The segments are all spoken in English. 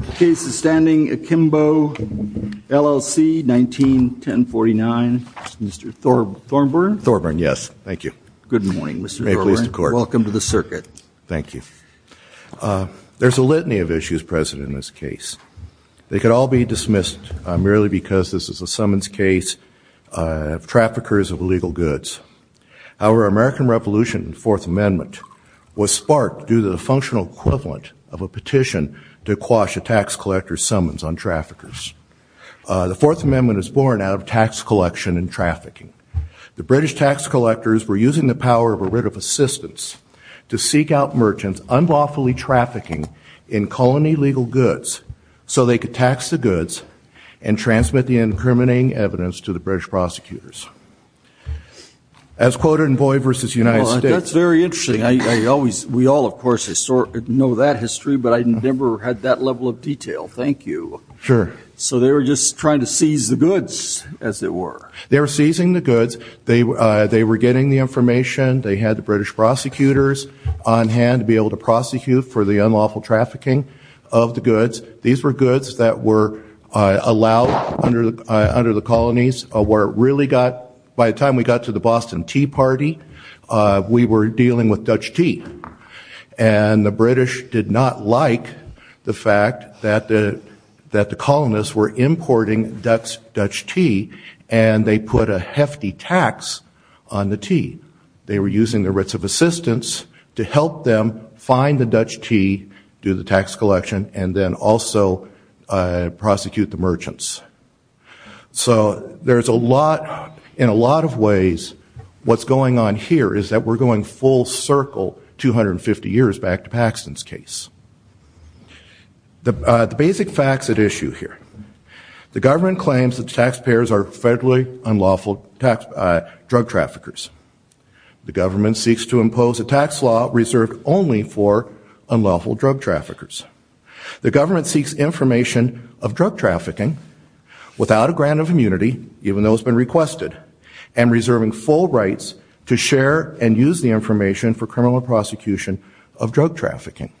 The case is standing Akimbo, LLC, 191049. Mr. Thornburn? Thornburn, yes. Thank you. Good morning, Mr. Thornburn. Welcome to the circuit. Thank you. There's a litany of issues present in this case. They could all be dismissed merely because this is a summons case of traffickers of illegal goods. Our American Revolution Fourth Amendment was sparked due to the functional equivalent of a petition to quash a tax collector's summons on traffickers. The Fourth Amendment is born out of tax collection and trafficking. The British tax collectors were using the power of a writ of assistance to seek out merchants unlawfully trafficking in colony legal goods so they could tax the goods and transmit the incriminating evidence to the British prosecutors. As quoted in that history but I never had that level of detail. Thank you. Sure. So they were just trying to seize the goods as it were. They were seizing the goods. They were getting the information. They had the British prosecutors on hand to be able to prosecute for the unlawful trafficking of the goods. These were goods that were allowed under the colonies where it really got, by the time we got to the Boston Tea Party, we were dealing with Dutch tea. And the British did not like the fact that the colonists were importing Dutch tea and they put a hefty tax on the tea. They were using the writs of assistance to help them find the Dutch tea, do the tax collection, and then also prosecute the merchants. So there's a lot, in a lot of ways, what's going on here is that we're going full circle 250 years back to Paxton's case. The basic facts at issue here. The government claims that taxpayers are federally unlawful drug traffickers. The government seeks to impose a tax law reserved only for unlawful drug traffickers. The government seeks information of drug trafficking without a grant of immunity, even though it's been requested, and reserving full rights to share and use the information for criminal prosecution of drug trafficking.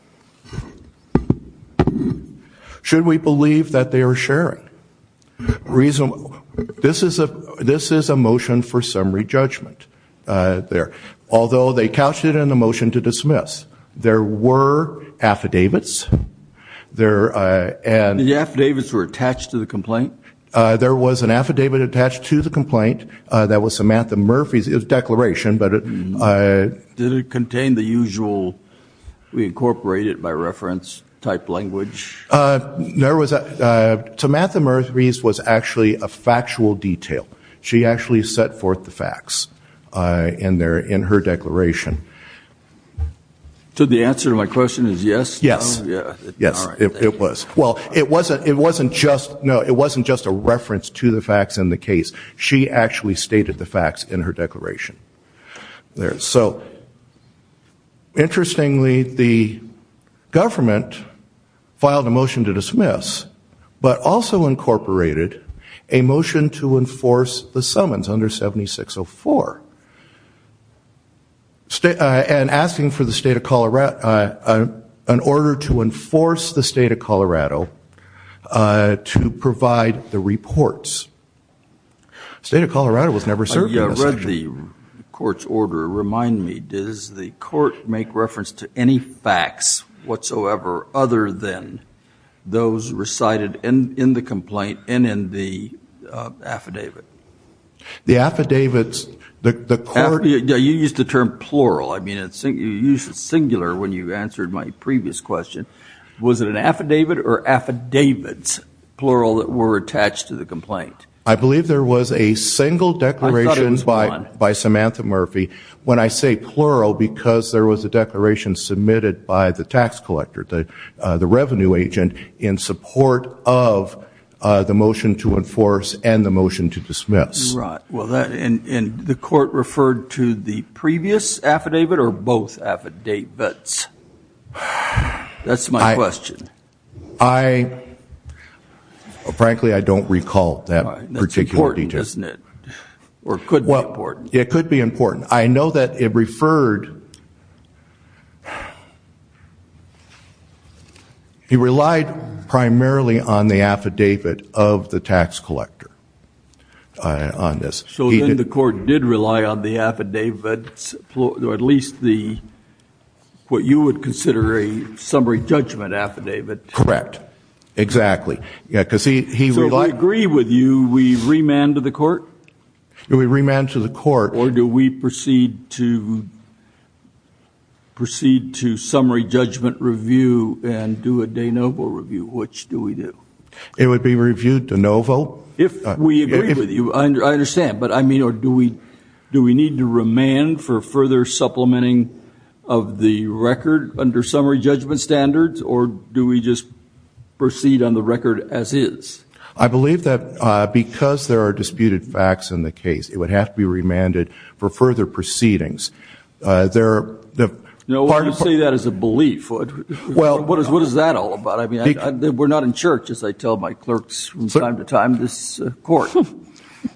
Should we believe that they are sharing? This is a motion for summary judgment there. Although they couched it in the motion to dismiss. There were affidavits. The affidavits were attached to the complaint? There was an affidavit attached to the complaint that was Samantha Murphy's declaration. Did it contain the usual, we incorporate it by reference, type language? There was a, Samantha Murphy's was actually a factual detail. She actually set forth the facts in her declaration. So the answer to my question is yes? Yes. Yes, it was. Well it wasn't, it wasn't just, no, it actually stated the facts in her declaration. There. So interestingly, the government filed a motion to dismiss, but also incorporated a motion to enforce the summons under 7604. And asking for the state of Colorado, an order to Colorado was never served. I read the court's order. Remind me, does the court make reference to any facts whatsoever other than those recited in the complaint and in the affidavit? The affidavits, the court, you used the term plural, I mean it's singular when you answered my previous question. Was it an affidavit or affidavits, plural, that were attached to the complaint? I believe there was a single declaration by, by Samantha Murphy. When I say plural, because there was a declaration submitted by the tax collector, the, the revenue agent in support of the motion to enforce and the motion to dismiss. Right, well that, and the court referred to the previous affidavit or both affidavits? That's my question. I, frankly, I don't recall that particular detail. That's important, isn't it? Or it could be important. It could be important. I know that it referred, he relied primarily on the affidavit of the tax collector on this. So then the court did rely on the affidavits, at least the, what you would consider a summary judgment affidavit. Correct, exactly. Yeah, because he, he relied. So we agree with you, we remand to the court? We remand to the court. Or do we proceed to, proceed to summary judgment review and do a de novo review? Which do we do? It would be reviewed de novo. If we agree with you, I understand, but I mean, or do we, do we need to remand for further supplementing of the record under summary judgment standards? Or do we just proceed on the record as is? I believe that because there are disputed facts in the case, it would have to be remanded for further proceedings. There, the. No, why do you say that as a belief? Well, what is, what is that all about? I mean, we're not in church, as I tell my clerks from time to time, this court.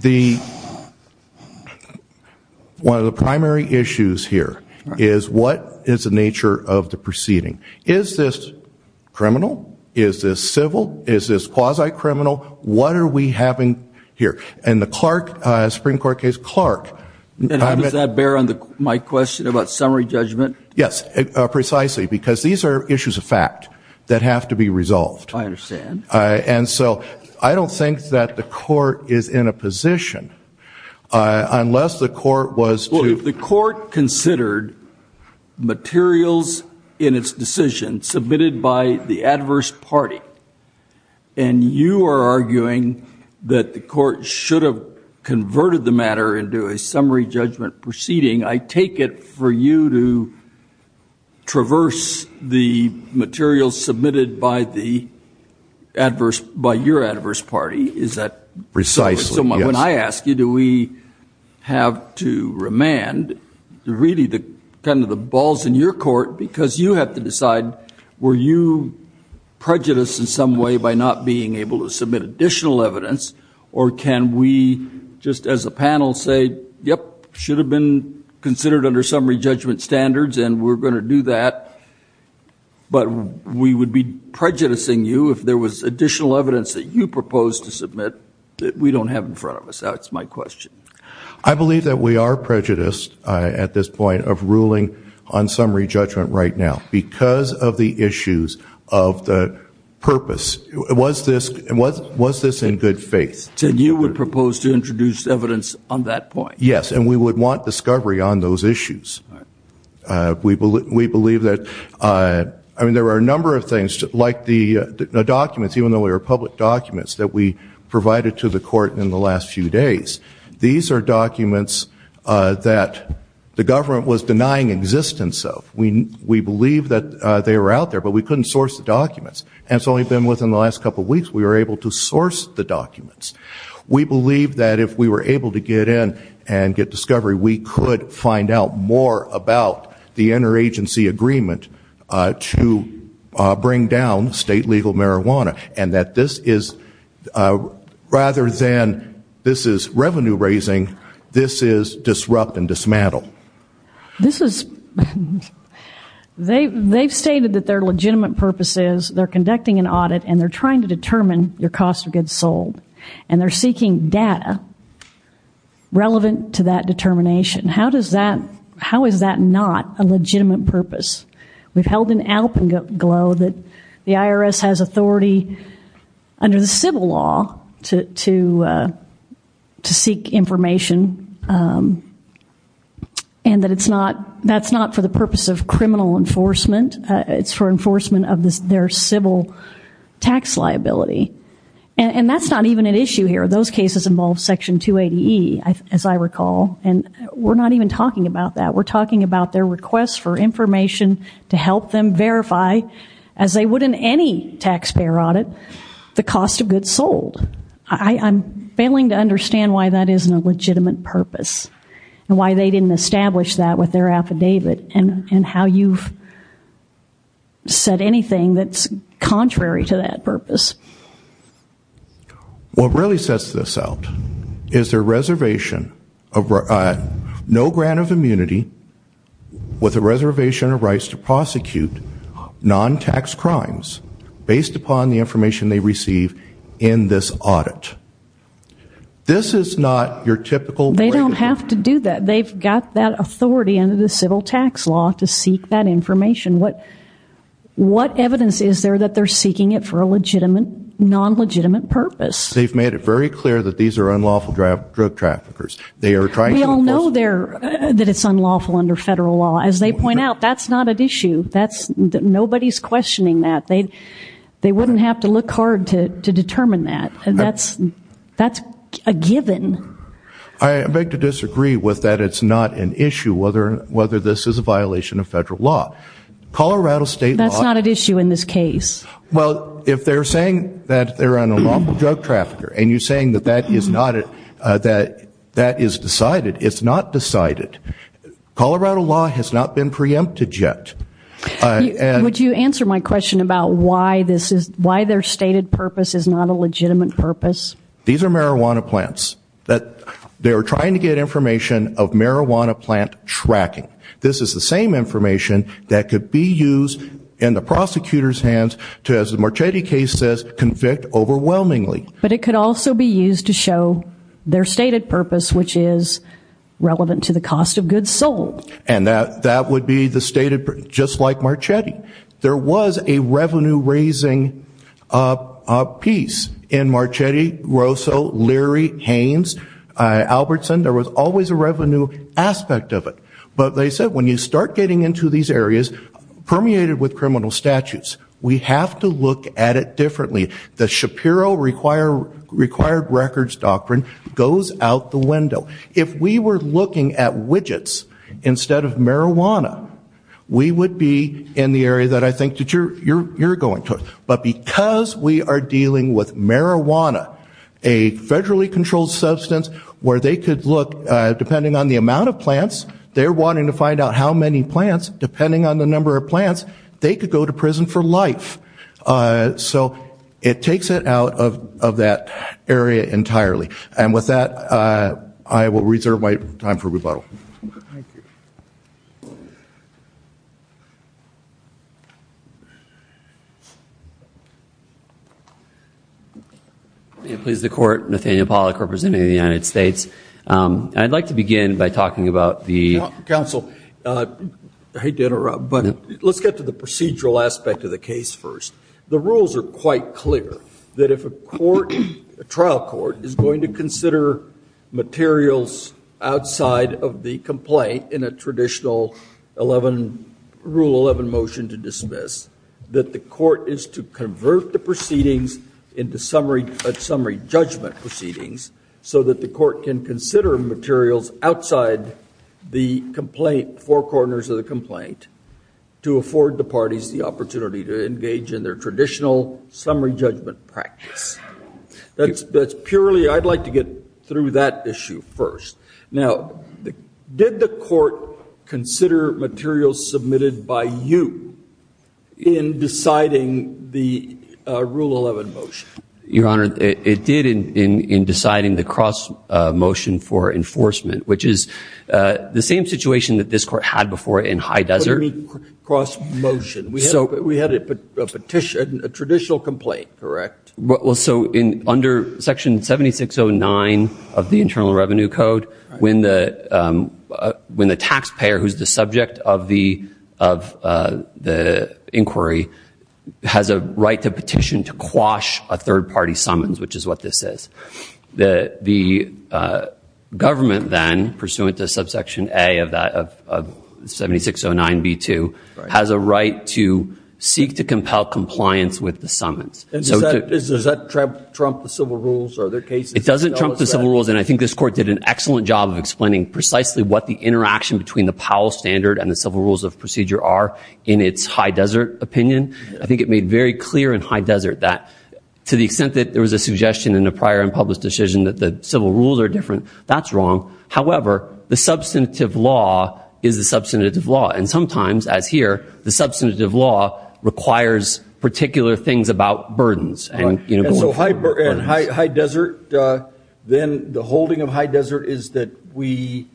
The, one of the primary issues here is what is the nature of the proceeding? Is this criminal? Is this civil? Is this quasi-criminal? What are we having here? And the Clark, Supreme Court case, Clark. And how does that bear on the, my question about summary judgment? Yes, precisely, because these are issues of fact that have to be resolved. I understand. And so I don't think that the court is in a position, unless the court considered materials in its decision submitted by the adverse party, and you are arguing that the court should have converted the matter into a summary judgment proceeding, I take it for you to traverse the materials submitted by the adverse, by your adverse party. Is that? Precisely. When I ask you, do we have to remand, really the, kind of the balls in your court, because you have to decide, were you prejudiced in some way by not being able to submit additional evidence? Or can we, just as a panel, say, yep, should have been considered under summary judgment standards, and we're going to do that. But we would be prejudicing you if there was additional evidence that you proposed to question? I believe that we are prejudiced, at this point, of ruling on summary judgment right now, because of the issues of the purpose. Was this, was was this in good faith? So you would propose to introduce evidence on that point? Yes, and we would want discovery on those issues. We believe that, I mean, there are a number of things, like the documents, even though they are public documents, that we provided to the court in the last few days. These are documents that the government was denying existence of. We, we believe that they were out there, but we couldn't source the documents. And it's only been within the last couple weeks we were able to source the documents. We believe that if we were able to get in and get discovery, we could find out more about the rather than, this is revenue raising, this is disrupt and dismantle. This is, they, they've stated that their legitimate purpose is, they're conducting an audit and they're trying to determine your cost of goods sold. And they're seeking data relevant to that determination. How does that, how is that not a legitimate purpose? We've held in Alpenglow that the IRS has authority under the civil law to, to, to seek information. And that it's not, that's not for the purpose of criminal enforcement. It's for enforcement of this, their civil tax liability. And that's not even an issue here. Those cases involve Section 280E, as I recall. And we're not even talking about that. We're talking about their requests for information to help them verify, as they would in any taxpayer audit, the cost of goods sold. I, I'm failing to understand why that isn't a legitimate purpose. And why they didn't establish that with their affidavit. And, and how you've said anything that's contrary to that purpose. What really sets this out is their reservation of, no grant of immunity, with a reservation of rights to prosecute non-tax crimes, based upon the information they receive in this audit. This is not your typical. They don't have to do that. They've got that authority under the civil tax law to seek that information. What, what evidence is there that they're seeking it for a legitimate, non-legitimate purpose? They've made it very clear that these are unlawful drug traffickers. They are trying to enforce. We all know they're, that it's unlawful under federal law. As they point out, that's not an issue. That's, nobody's questioning that. They, they wouldn't have to look hard to, to determine that. That's, that's a given. I beg to disagree with that it's not an issue whether, whether this is a violation of federal law. Colorado state law. That's not an issue in this case. Well, if they're saying that they're an unlawful drug trafficker, and you're saying that that is not it, that, that is decided, it's not decided. Colorado law has not been preempted yet. Would you answer my question about why this is, why their stated purpose is not a legitimate purpose? These are marijuana plants. That, they are trying to get information of marijuana plant tracking. This is the same information that could be used in the prosecutor's hands to, as the Marchetti case says, convict overwhelmingly. But it could also be used to show their stated purpose, which is relevant to the cost of goods sold. And that, that would be the stated, just like Marchetti. There was a revenue raising piece in Marchetti, Rosso, Leary, Haynes, Albertson. There was always a revenue aspect of it. But they said when you start getting into these areas, permeated with criminal statutes, we have to look at it differently. The Shapiro require, required records doctrine goes out the window. If we were looking at widgets instead of marijuana, we would be in the area that I think that you're, you're, you're going to. But because we are dealing with marijuana, a federally controlled substance, where they could look, depending on the amount of plants, they're wanting to find out how many plants, they could go to prison for life. So it takes it out of, of that area entirely. And with that, I will reserve my time for rebuttal. Please, the court. Nathaniel Pollack, representing the United States. I'd like to begin by talking about the... Counsel, I hate to interrupt, but let's get to the procedural aspect of the case first. The rules are quite clear, that if a court, a trial court, is going to consider materials outside of the complaint in a traditional 11, Rule 11 motion to dismiss, that the court is to convert the proceedings into summary, summary judgment proceedings, so that the court can consider materials outside the complaint, four corners of the complaint, to afford the parties the opportunity to engage in their traditional summary judgment practice. That's, that's purely, I'd like to get through that issue first. Now, did the court consider materials submitted by you in deciding the Rule 11 motion? Your Honor, it did in, in deciding the cross motion for enforcement, which is the same situation that this court had before in High Desert. What do you mean cross motion? So we had a petition, a traditional complaint, correct? Well, so in, under Section 7609 of the Internal Revenue Code, when the, when the taxpayer, who's the subject of the, of the inquiry, has a right to petition to quash a third party summons, which is what this is. The, the government then, pursuant to subsection A of that, of 7609 B2, has a right to seek to compel compliance with the summons. And does that, does that trump, trump the civil rules or other cases? It doesn't trump the civil rules, and I think this court did an excellent job of precisely what the interaction between the Powell standard and the civil rules of procedure are in its High Desert opinion. I think it made very clear in High Desert that, to the extent that there was a suggestion in a prior and published decision that the civil rules are different, that's wrong. However, the substantive law is the substantive law. And sometimes, as here, the substantive law requires particular things about burdens and, you know. And so High, High Desert is that we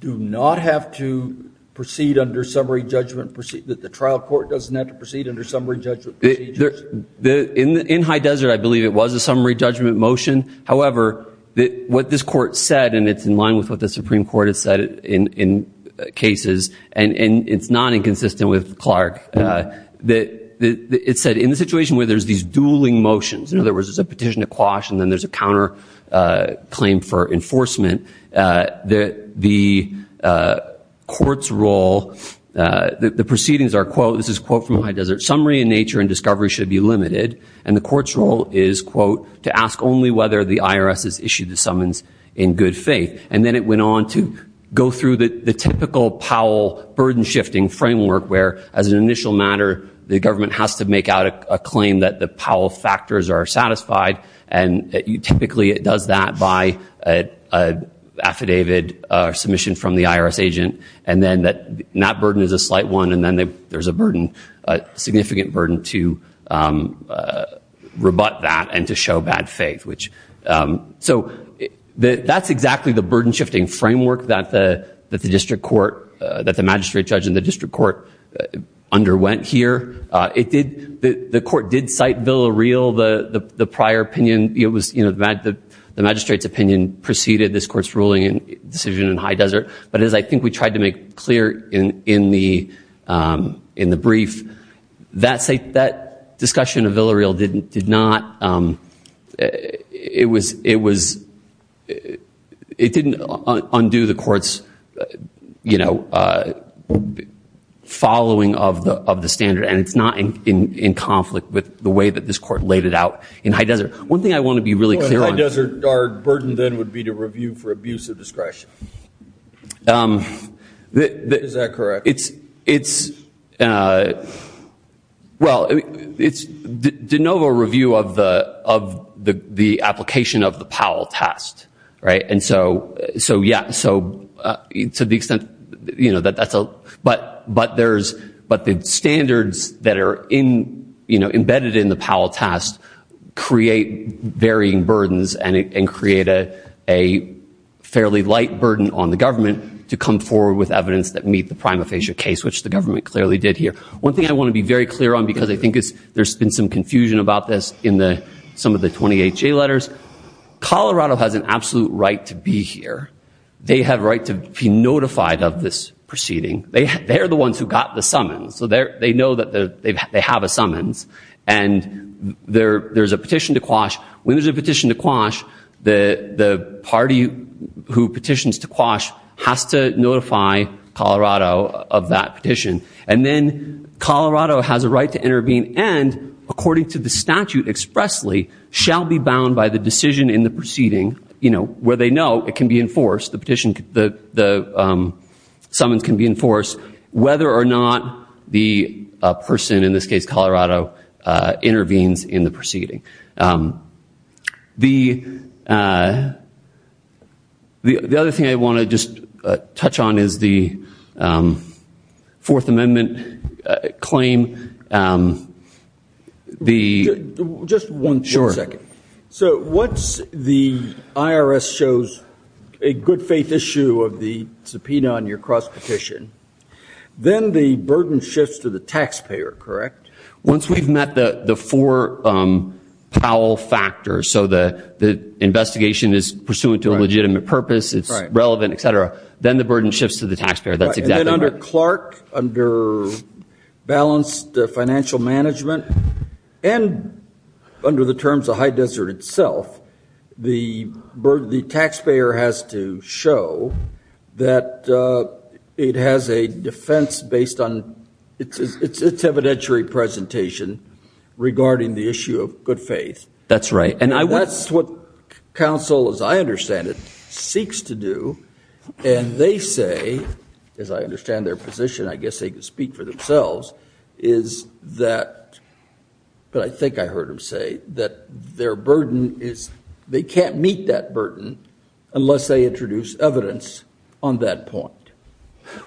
do not have to proceed under summary judgment, proceed, that the trial court doesn't have to proceed under summary judgment procedures. In, in High Desert, I believe it was a summary judgment motion. However, that what this court said, and it's in line with what the Supreme Court has said in, in cases, and, and it's not inconsistent with Clark, that it said in the situation where there's these dueling motions, in other words, there's a petition to quash and then there's a counter claim for enforcement, that the court's role, the proceedings are, quote, this is a quote from High Desert, summary in nature and discovery should be limited. And the court's role is, quote, to ask only whether the IRS has issued the summons in good faith. And then it went on to go through the, the typical Powell burden shifting framework where, as an initial matter, the government has to make out a claim that the Powell factors are satisfied and typically it does that by affidavit or submission from the IRS agent and then that, that burden is a slight one and then there's a burden, a significant burden to rebut that and to show bad faith, which, so that's exactly the burden shifting framework that the, that the district court, that the magistrate judge in the district court underwent here. It did, the court did cite Villareal, the, the prior opinion, it was, you know, the magistrate's opinion preceded this court's ruling and decision in High Desert, but as I think we tried to make clear in, in the, in the brief, that's a, that discussion of Villareal didn't, did not, it was, it was, it didn't undo the court's, you know, following of the, of the standard and it's not in, in conflict with the way that this court laid it out in High Desert. One thing I want to be really clear on. In High Desert, our burden then would be to review for abuse of discretion. Is that correct? It's, it's, well, it's de novo review of the, of the, the application of the Powell test, right? And so, so yeah, so to the extent, you know, that that's a, but, but there's, but the standards that are in, you know, embedded in the Powell test create varying burdens and it, and create a, a fairly light burden on the government to come forward with evidence that meet the prima facie case, which the government clearly did here. One thing I want to be very clear on, because I think it's, there's been some confusion about this in the, some of the 28 J letters. Colorado has an absolute right to be here. They have right to be notified of this proceeding. They, they're the ones who got the summons. So they're, they know that the, they've, they have a summons. And there, there's a petition to quash. When there's a petition to quash, the, the party who petitions to quash has to notify Colorado of that petition. And then Colorado has a right to intervene and, according to the statute expressly, shall be bound by the decision in the proceeding, you know, where they know it can be enforced, whether or not the person, in this case Colorado, intervenes in the proceeding. The, the other thing I want to just touch on is the Fourth Amendment claim. The... Just one second. So once the IRS shows a good faith issue of the subpoena on your cross-petition, then the burden shifts to the taxpayer, correct? Once we've met the, the four Powell factors, so the, the investigation is pursuant to a legitimate purpose, it's relevant, etc., then the burden shifts to the taxpayer. That's exactly right. And then under Clark, under balanced financial management, and under the terms of High Desert itself, the burden, the taxpayer has to show that it has a defense based on its, its evidentiary presentation regarding the issue of good faith. That's right. And I... That's what counsel, as I understand it, seeks to do. And they say, as I understand their position, I guess they could speak for themselves, is that, but I think I heard him say, that their unless they introduce evidence on that point.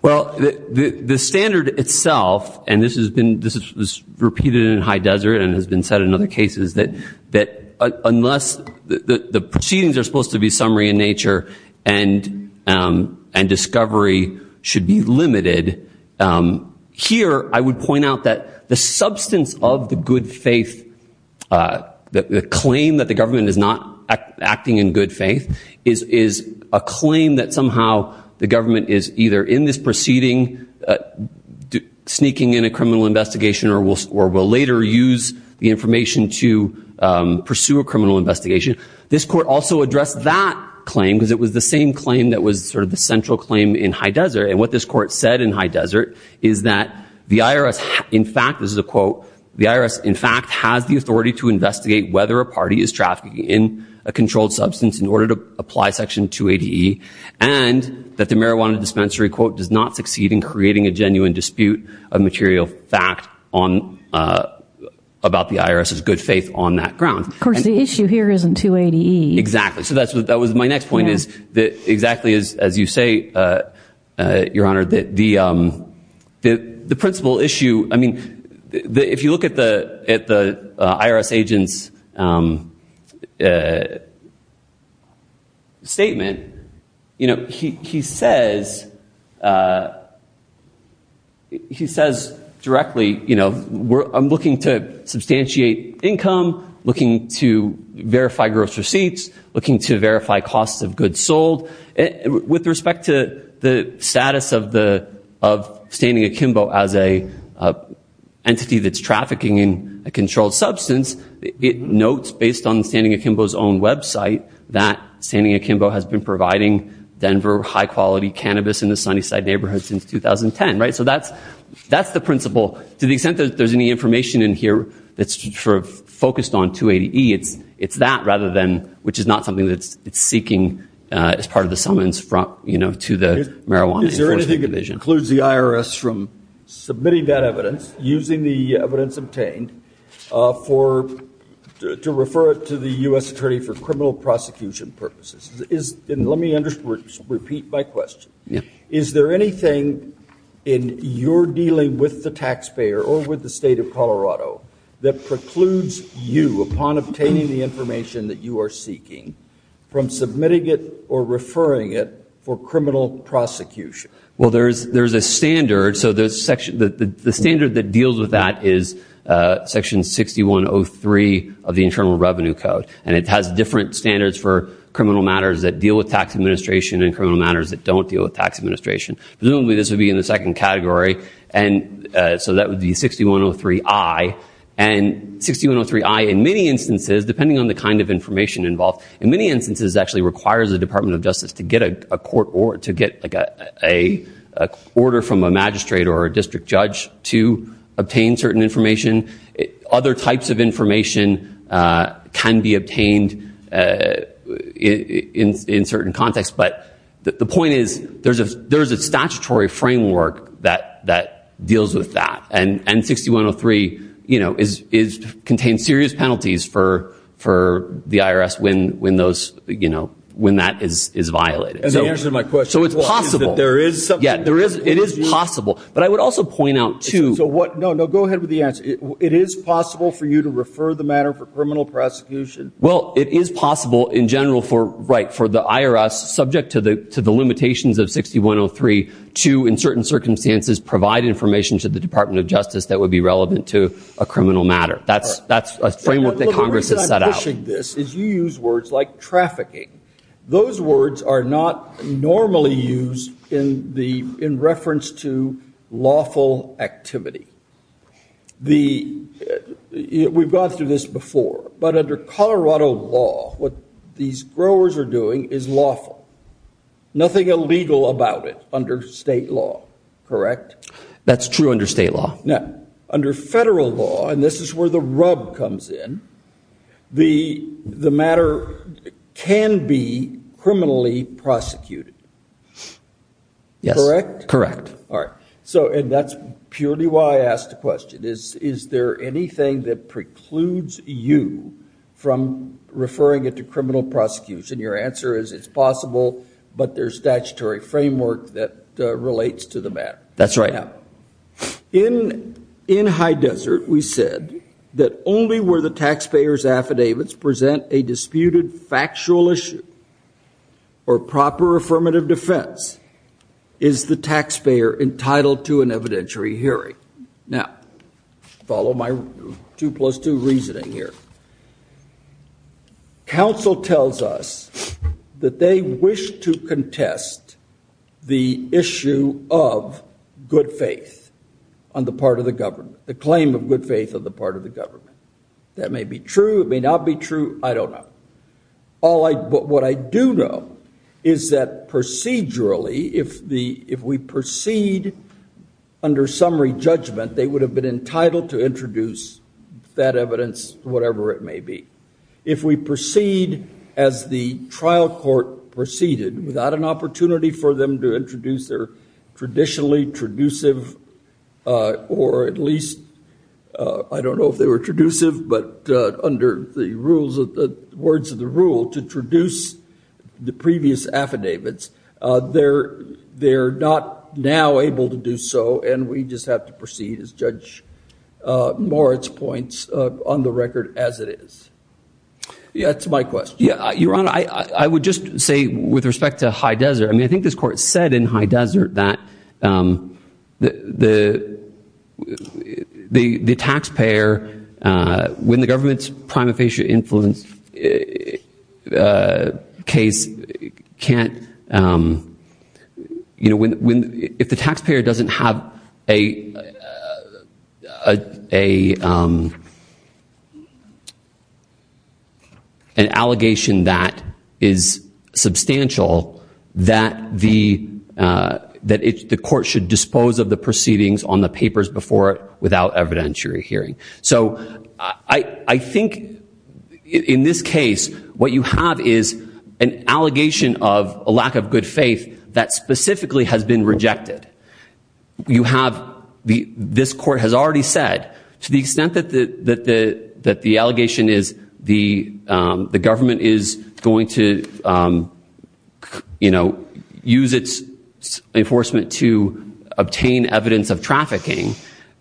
Well, the, the standard itself, and this has been, this is, this is repeated in High Desert and has been said in other cases, that, that unless the, the proceedings are supposed to be summary in nature and, and discovery should be limited, here I would point out that the substance of the good faith claim that the government is not acting in good faith is, is a claim that somehow the government is either in this proceeding, sneaking in a criminal investigation, or will, or will later use the information to pursue a criminal investigation. This court also addressed that claim, because it was the same claim that was sort of the central claim in High Desert. And what this court said in High Desert is that the IRS, in fact, this is a quote, the IRS, in fact, has the authority to investigate whether a party is controlled substance in order to apply Section 280E, and that the marijuana dispensary, quote, does not succeed in creating a genuine dispute of material fact on, about the IRS's good faith on that ground. Of course, the issue here isn't 280E. Exactly. So that's what, that was my next point, is that exactly as, as you say, Your Honor, that the, the, the principal issue, I mean, if you look at the IRS agent's statement, you know, he, he says, he says directly, you know, we're, I'm looking to substantiate income, looking to verify gross receipts, looking to verify costs of goods sold. With respect to the status of the, of standing akimbo as a entity that's trafficking in a controlled substance, it notes, based on standing akimbo's own website, that standing akimbo has been providing Denver high-quality cannabis in the Sunnyside neighborhood since 2010, right? So that's, that's the principle. To the extent that there's any information in here that's sort of focused on 280E, it's, it's that rather than, which is not something that's, it's seeking as part of the summons from, you know, to the submitting that evidence, using the evidence obtained for, to refer it to the U.S. attorney for criminal prosecution purposes. Is, and let me under, repeat my question. Is there anything in your dealing with the taxpayer or with the state of Colorado that precludes you, upon obtaining the information that you are seeking, from submitting it or referring it for criminal prosecution? Well, there's, there's a standard. So there's section, the, the, the standard that deals with that is section 6103 of the Internal Revenue Code. And it has different standards for criminal matters that deal with tax administration and criminal matters that don't deal with tax administration. Presumably this would be in the second category. And so that would be 6103I. And 6103I, in many instances, depending on the kind of information involved, in many instances actually requires the Department of Justice to get a court, or to get like a, a order from a magistrate or a district judge to obtain certain information. Other types of information can be obtained in, in certain contexts. But the point is, there's a, there's a statutory framework that, that deals with that. And, and 6103, you know, is, is, contains serious penalties for, for the IRS when, when those, you know, when that is, is violated. As the answer to my question. So it's possible. Well, is that there is something. Yeah, there is, it is possible. But I would also point out too. So what, no, no, go ahead with the answer. It, it is possible for you to refer the matter for criminal prosecution? Well, it is possible in general for, right, for the IRS, subject to the, to the limitations of 6103, to, in certain circumstances, provide information to the Department of Justice that would be relevant to a criminal matter. That's, that's a framework that Congress has set out. The reason I'm questioning this is you use words like trafficking. Those words are not normally used in the, in reference to lawful activity. The, we've gone through this before, but under Colorado law, what these growers are doing is lawful. Nothing illegal about it under state law. Correct? That's true under state law. Now, under federal law, and this is where the rub comes in, the, the matter can be criminally prosecuted. Correct? Correct. All right. So, and that's purely why I asked the question. Is, is there anything that precludes you from referring it to criminal prosecution? Your answer is it's possible, but there's statutory framework that relates to the matter. That's right. Now, in, in High Desert, we said that only where the taxpayer's affidavits present a disputed factual issue or proper affirmative defense is the taxpayer entitled to an evidentiary hearing. Now, follow my two plus two reasoning here. Counsel tells us that they wish to contest the issue of good faith on the part of the government, the claim of good faith on the part of the government. That may be true, it may not be true, I don't know. All I, but what I do know is that procedurally, if the, if we proceed under summary judgment, they would have been entitled to introduce that evidence, whatever it may be. If we proceed as the trial court proceeded without an opportunity for them to introduce their traditionally traducive, or at least, I don't know if they were traducive, but under the rules of the, words of the rule, to traduce the previous affidavits, they're, they're not now able to do so, and we just have to proceed as Judge Moritz points on the record as it is. Yeah, that's my question. Yeah, Your Honor, I, I would just say with respect to High Desert, I mean, I think this court said in High Desert that the, the, the, the taxpayer, when the you know, when, when, if the taxpayer doesn't have a, a, an allegation that is substantial, that the, that it, the court should dispose of the proceedings on the papers before it without evidentiary hearing. So, I, I think in this case, what you have is an allegation of a lack of good faith that specifically has been rejected. You have the, this court has already said, to the extent that the, that the, that the allegation is the, the government is going to, you know, use its enforcement to obtain evidence of trafficking,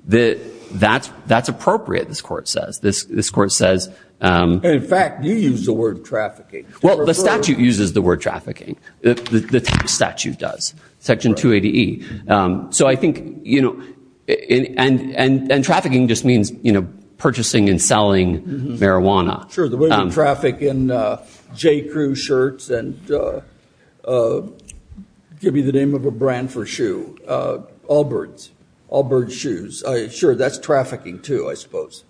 that, that's, that's Well, the statute uses the word trafficking. The, the statute does. Section 280E. So, I think, you know, and, and, and trafficking just means, you know, purchasing and selling marijuana. Sure, the way we traffic in J. Crew shirts and, give you the name of a brand for shoe, Allbirds, Allbird shoes. Sure, that's trafficking too, I suppose.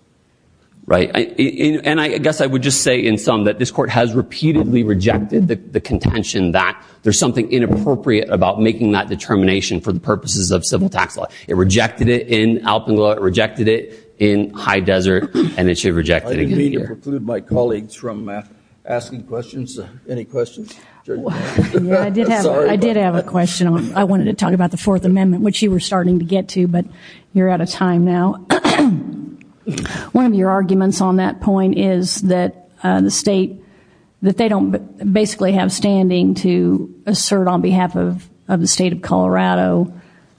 Right. And I, I guess I would just say in sum that this court has repeatedly rejected the, the contention that there's something inappropriate about making that determination for the purposes of civil tax law. It rejected it in Alpenglow, it rejected it in High Desert, and it should reject it again here. I didn't mean to preclude my colleagues from asking questions. Any questions? I did have, I did have a question. I wanted to talk about the Fourth Amendment. One of your arguments on that point is that the state, that they don't basically have standing to assert on behalf of, of the state of Colorado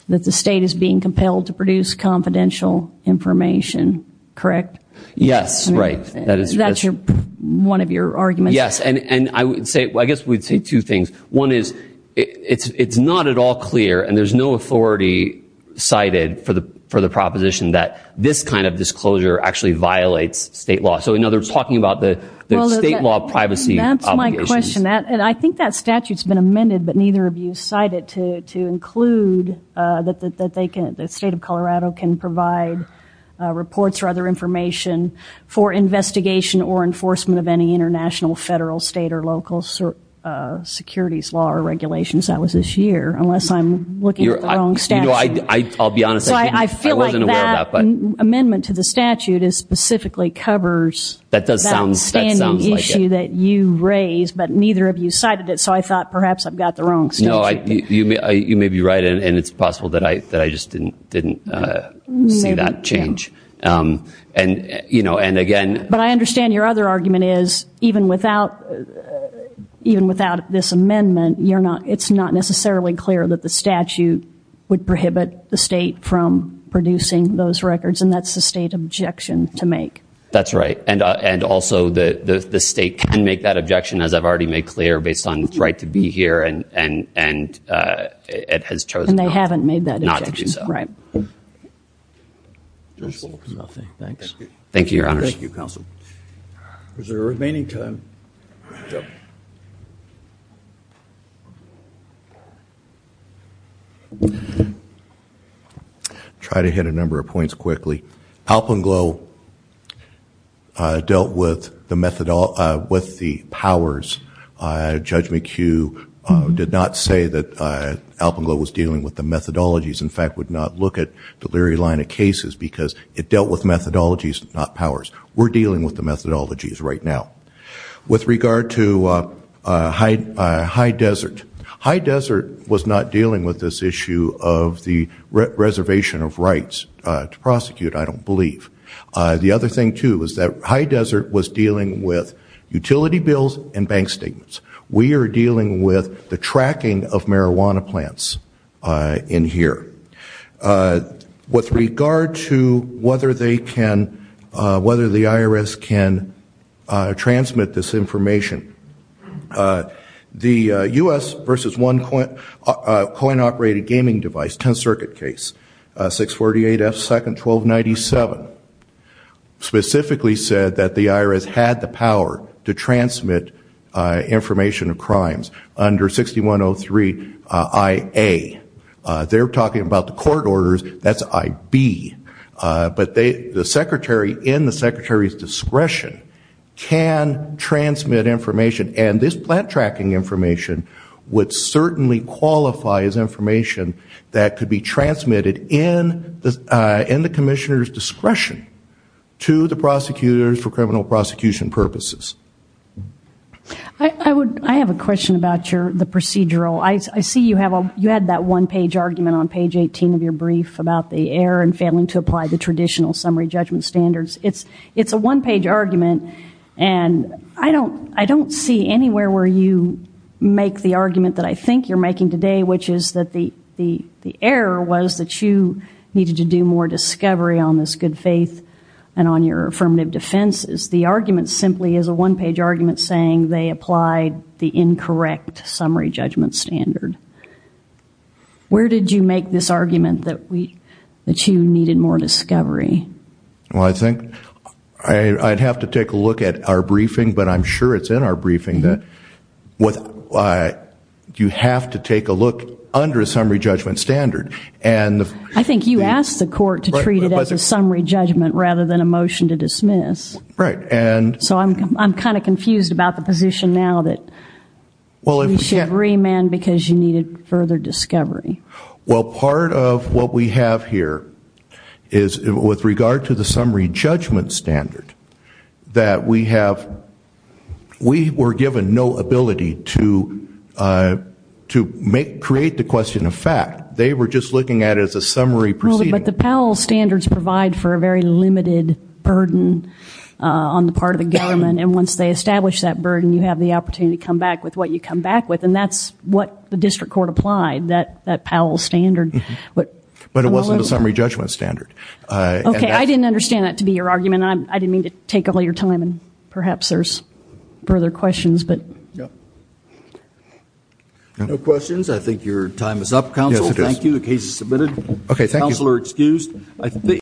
that the state is being compelled to produce confidential information, correct? Yes, right. That is, that's your, one of your arguments. Yes, and, and I would say, I guess we'd say two things. One is, it's, it's not at all clear, and there's no proposition, that this kind of disclosure actually violates state law. So, you know, they're talking about the state law privacy. That's my question. That, and I think that statute's been amended, but neither of you cite it to, to include that, that they can, the state of Colorado can provide reports or other information for investigation or enforcement of any international, federal, state, or local securities law or regulations. That was this year, unless I'm looking at the wrong statute. You know, I, I'll be honest, I wasn't aware of that. So, I feel like that amendment to the statute is, specifically covers. That does sound, that sounds like it. That standing issue that you raised, but neither of you cited it, so I thought perhaps I've got the wrong statute. No, I, you may, you may be right, and it's possible that I, that I just didn't, didn't see that change. And, you know, and again. But I understand your other argument is, even without, even without this amendment, you're not, it's not necessarily clear that the statute would prohibit the state from producing those records, and that's the state objection to make. That's right, and, and also the, the, the state can make that objection, as I've already made clear, based on its right to be here, and, and, and it has chosen not to do so. And they haven't made that objection, right. Nothing. Thanks. Thank you, Your Honors. Thank you, Counsel. Is there a remaining time? Try to hit a number of points quickly. Alpenglow dealt with the methodo, with the powers. Judge McHugh did not say that Alpenglow was dealing with the Leary line of cases, because it dealt with methodologies, not powers. We're dealing with the methodologies right now. With regard to High, High Desert, High Desert was not dealing with this issue of the reservation of rights to prosecute, I don't believe. The other thing, too, is that High Desert was dealing with utility bills and bank statements. We are dealing with the With regard to whether they can, whether the IRS can transmit this information, the US versus one coin, coin-operated gaming device, 10 circuit case, 648 F 2nd 1297, specifically said that the IRS had the power to transmit information of that's IB, but they, the secretary in the secretary's discretion can transmit information and this plant tracking information would certainly qualify as information that could be transmitted in the, in the commissioner's discretion to the prosecutors for criminal prosecution purposes. I would, I have a question about your, the procedural. I see you have a, you had that one-page argument on page 18 of your brief about the error in failing to apply the traditional summary judgment standards. It's, it's a one-page argument and I don't, I don't see anywhere where you make the argument that I think you're making today, which is that the, the, the error was that you needed to do more discovery on this good faith and on your affirmative defenses. The argument simply is a one-page argument saying they applied the incorrect summary judgment standard. Where did you make this argument that we, that you needed more discovery? Well, I think I'd have to take a look at our briefing, but I'm sure it's in our briefing that what, you have to take a look under a summary judgment standard and I think you asked the court to treat it as a summary judgment rather than a motion to dismiss. Right. And so I'm kind of confused about the position now that we should remand because you needed further discovery. Well, part of what we have here is with regard to the summary judgment standard that we have, we were given no ability to, to make, create the question of fact. They were just looking at it as a summary proceeding. But the Powell standards provide for a very limited burden on the part of the government and once they establish that you come back with and that's what the district court applied that, that Powell standard. But it wasn't a summary judgment standard. Okay, I didn't understand that to be your argument. I didn't mean to take all your time and perhaps there's further questions, but. No questions. I think your time is up counsel. Thank you. The case is submitted. Okay, thank you. Counselor excused.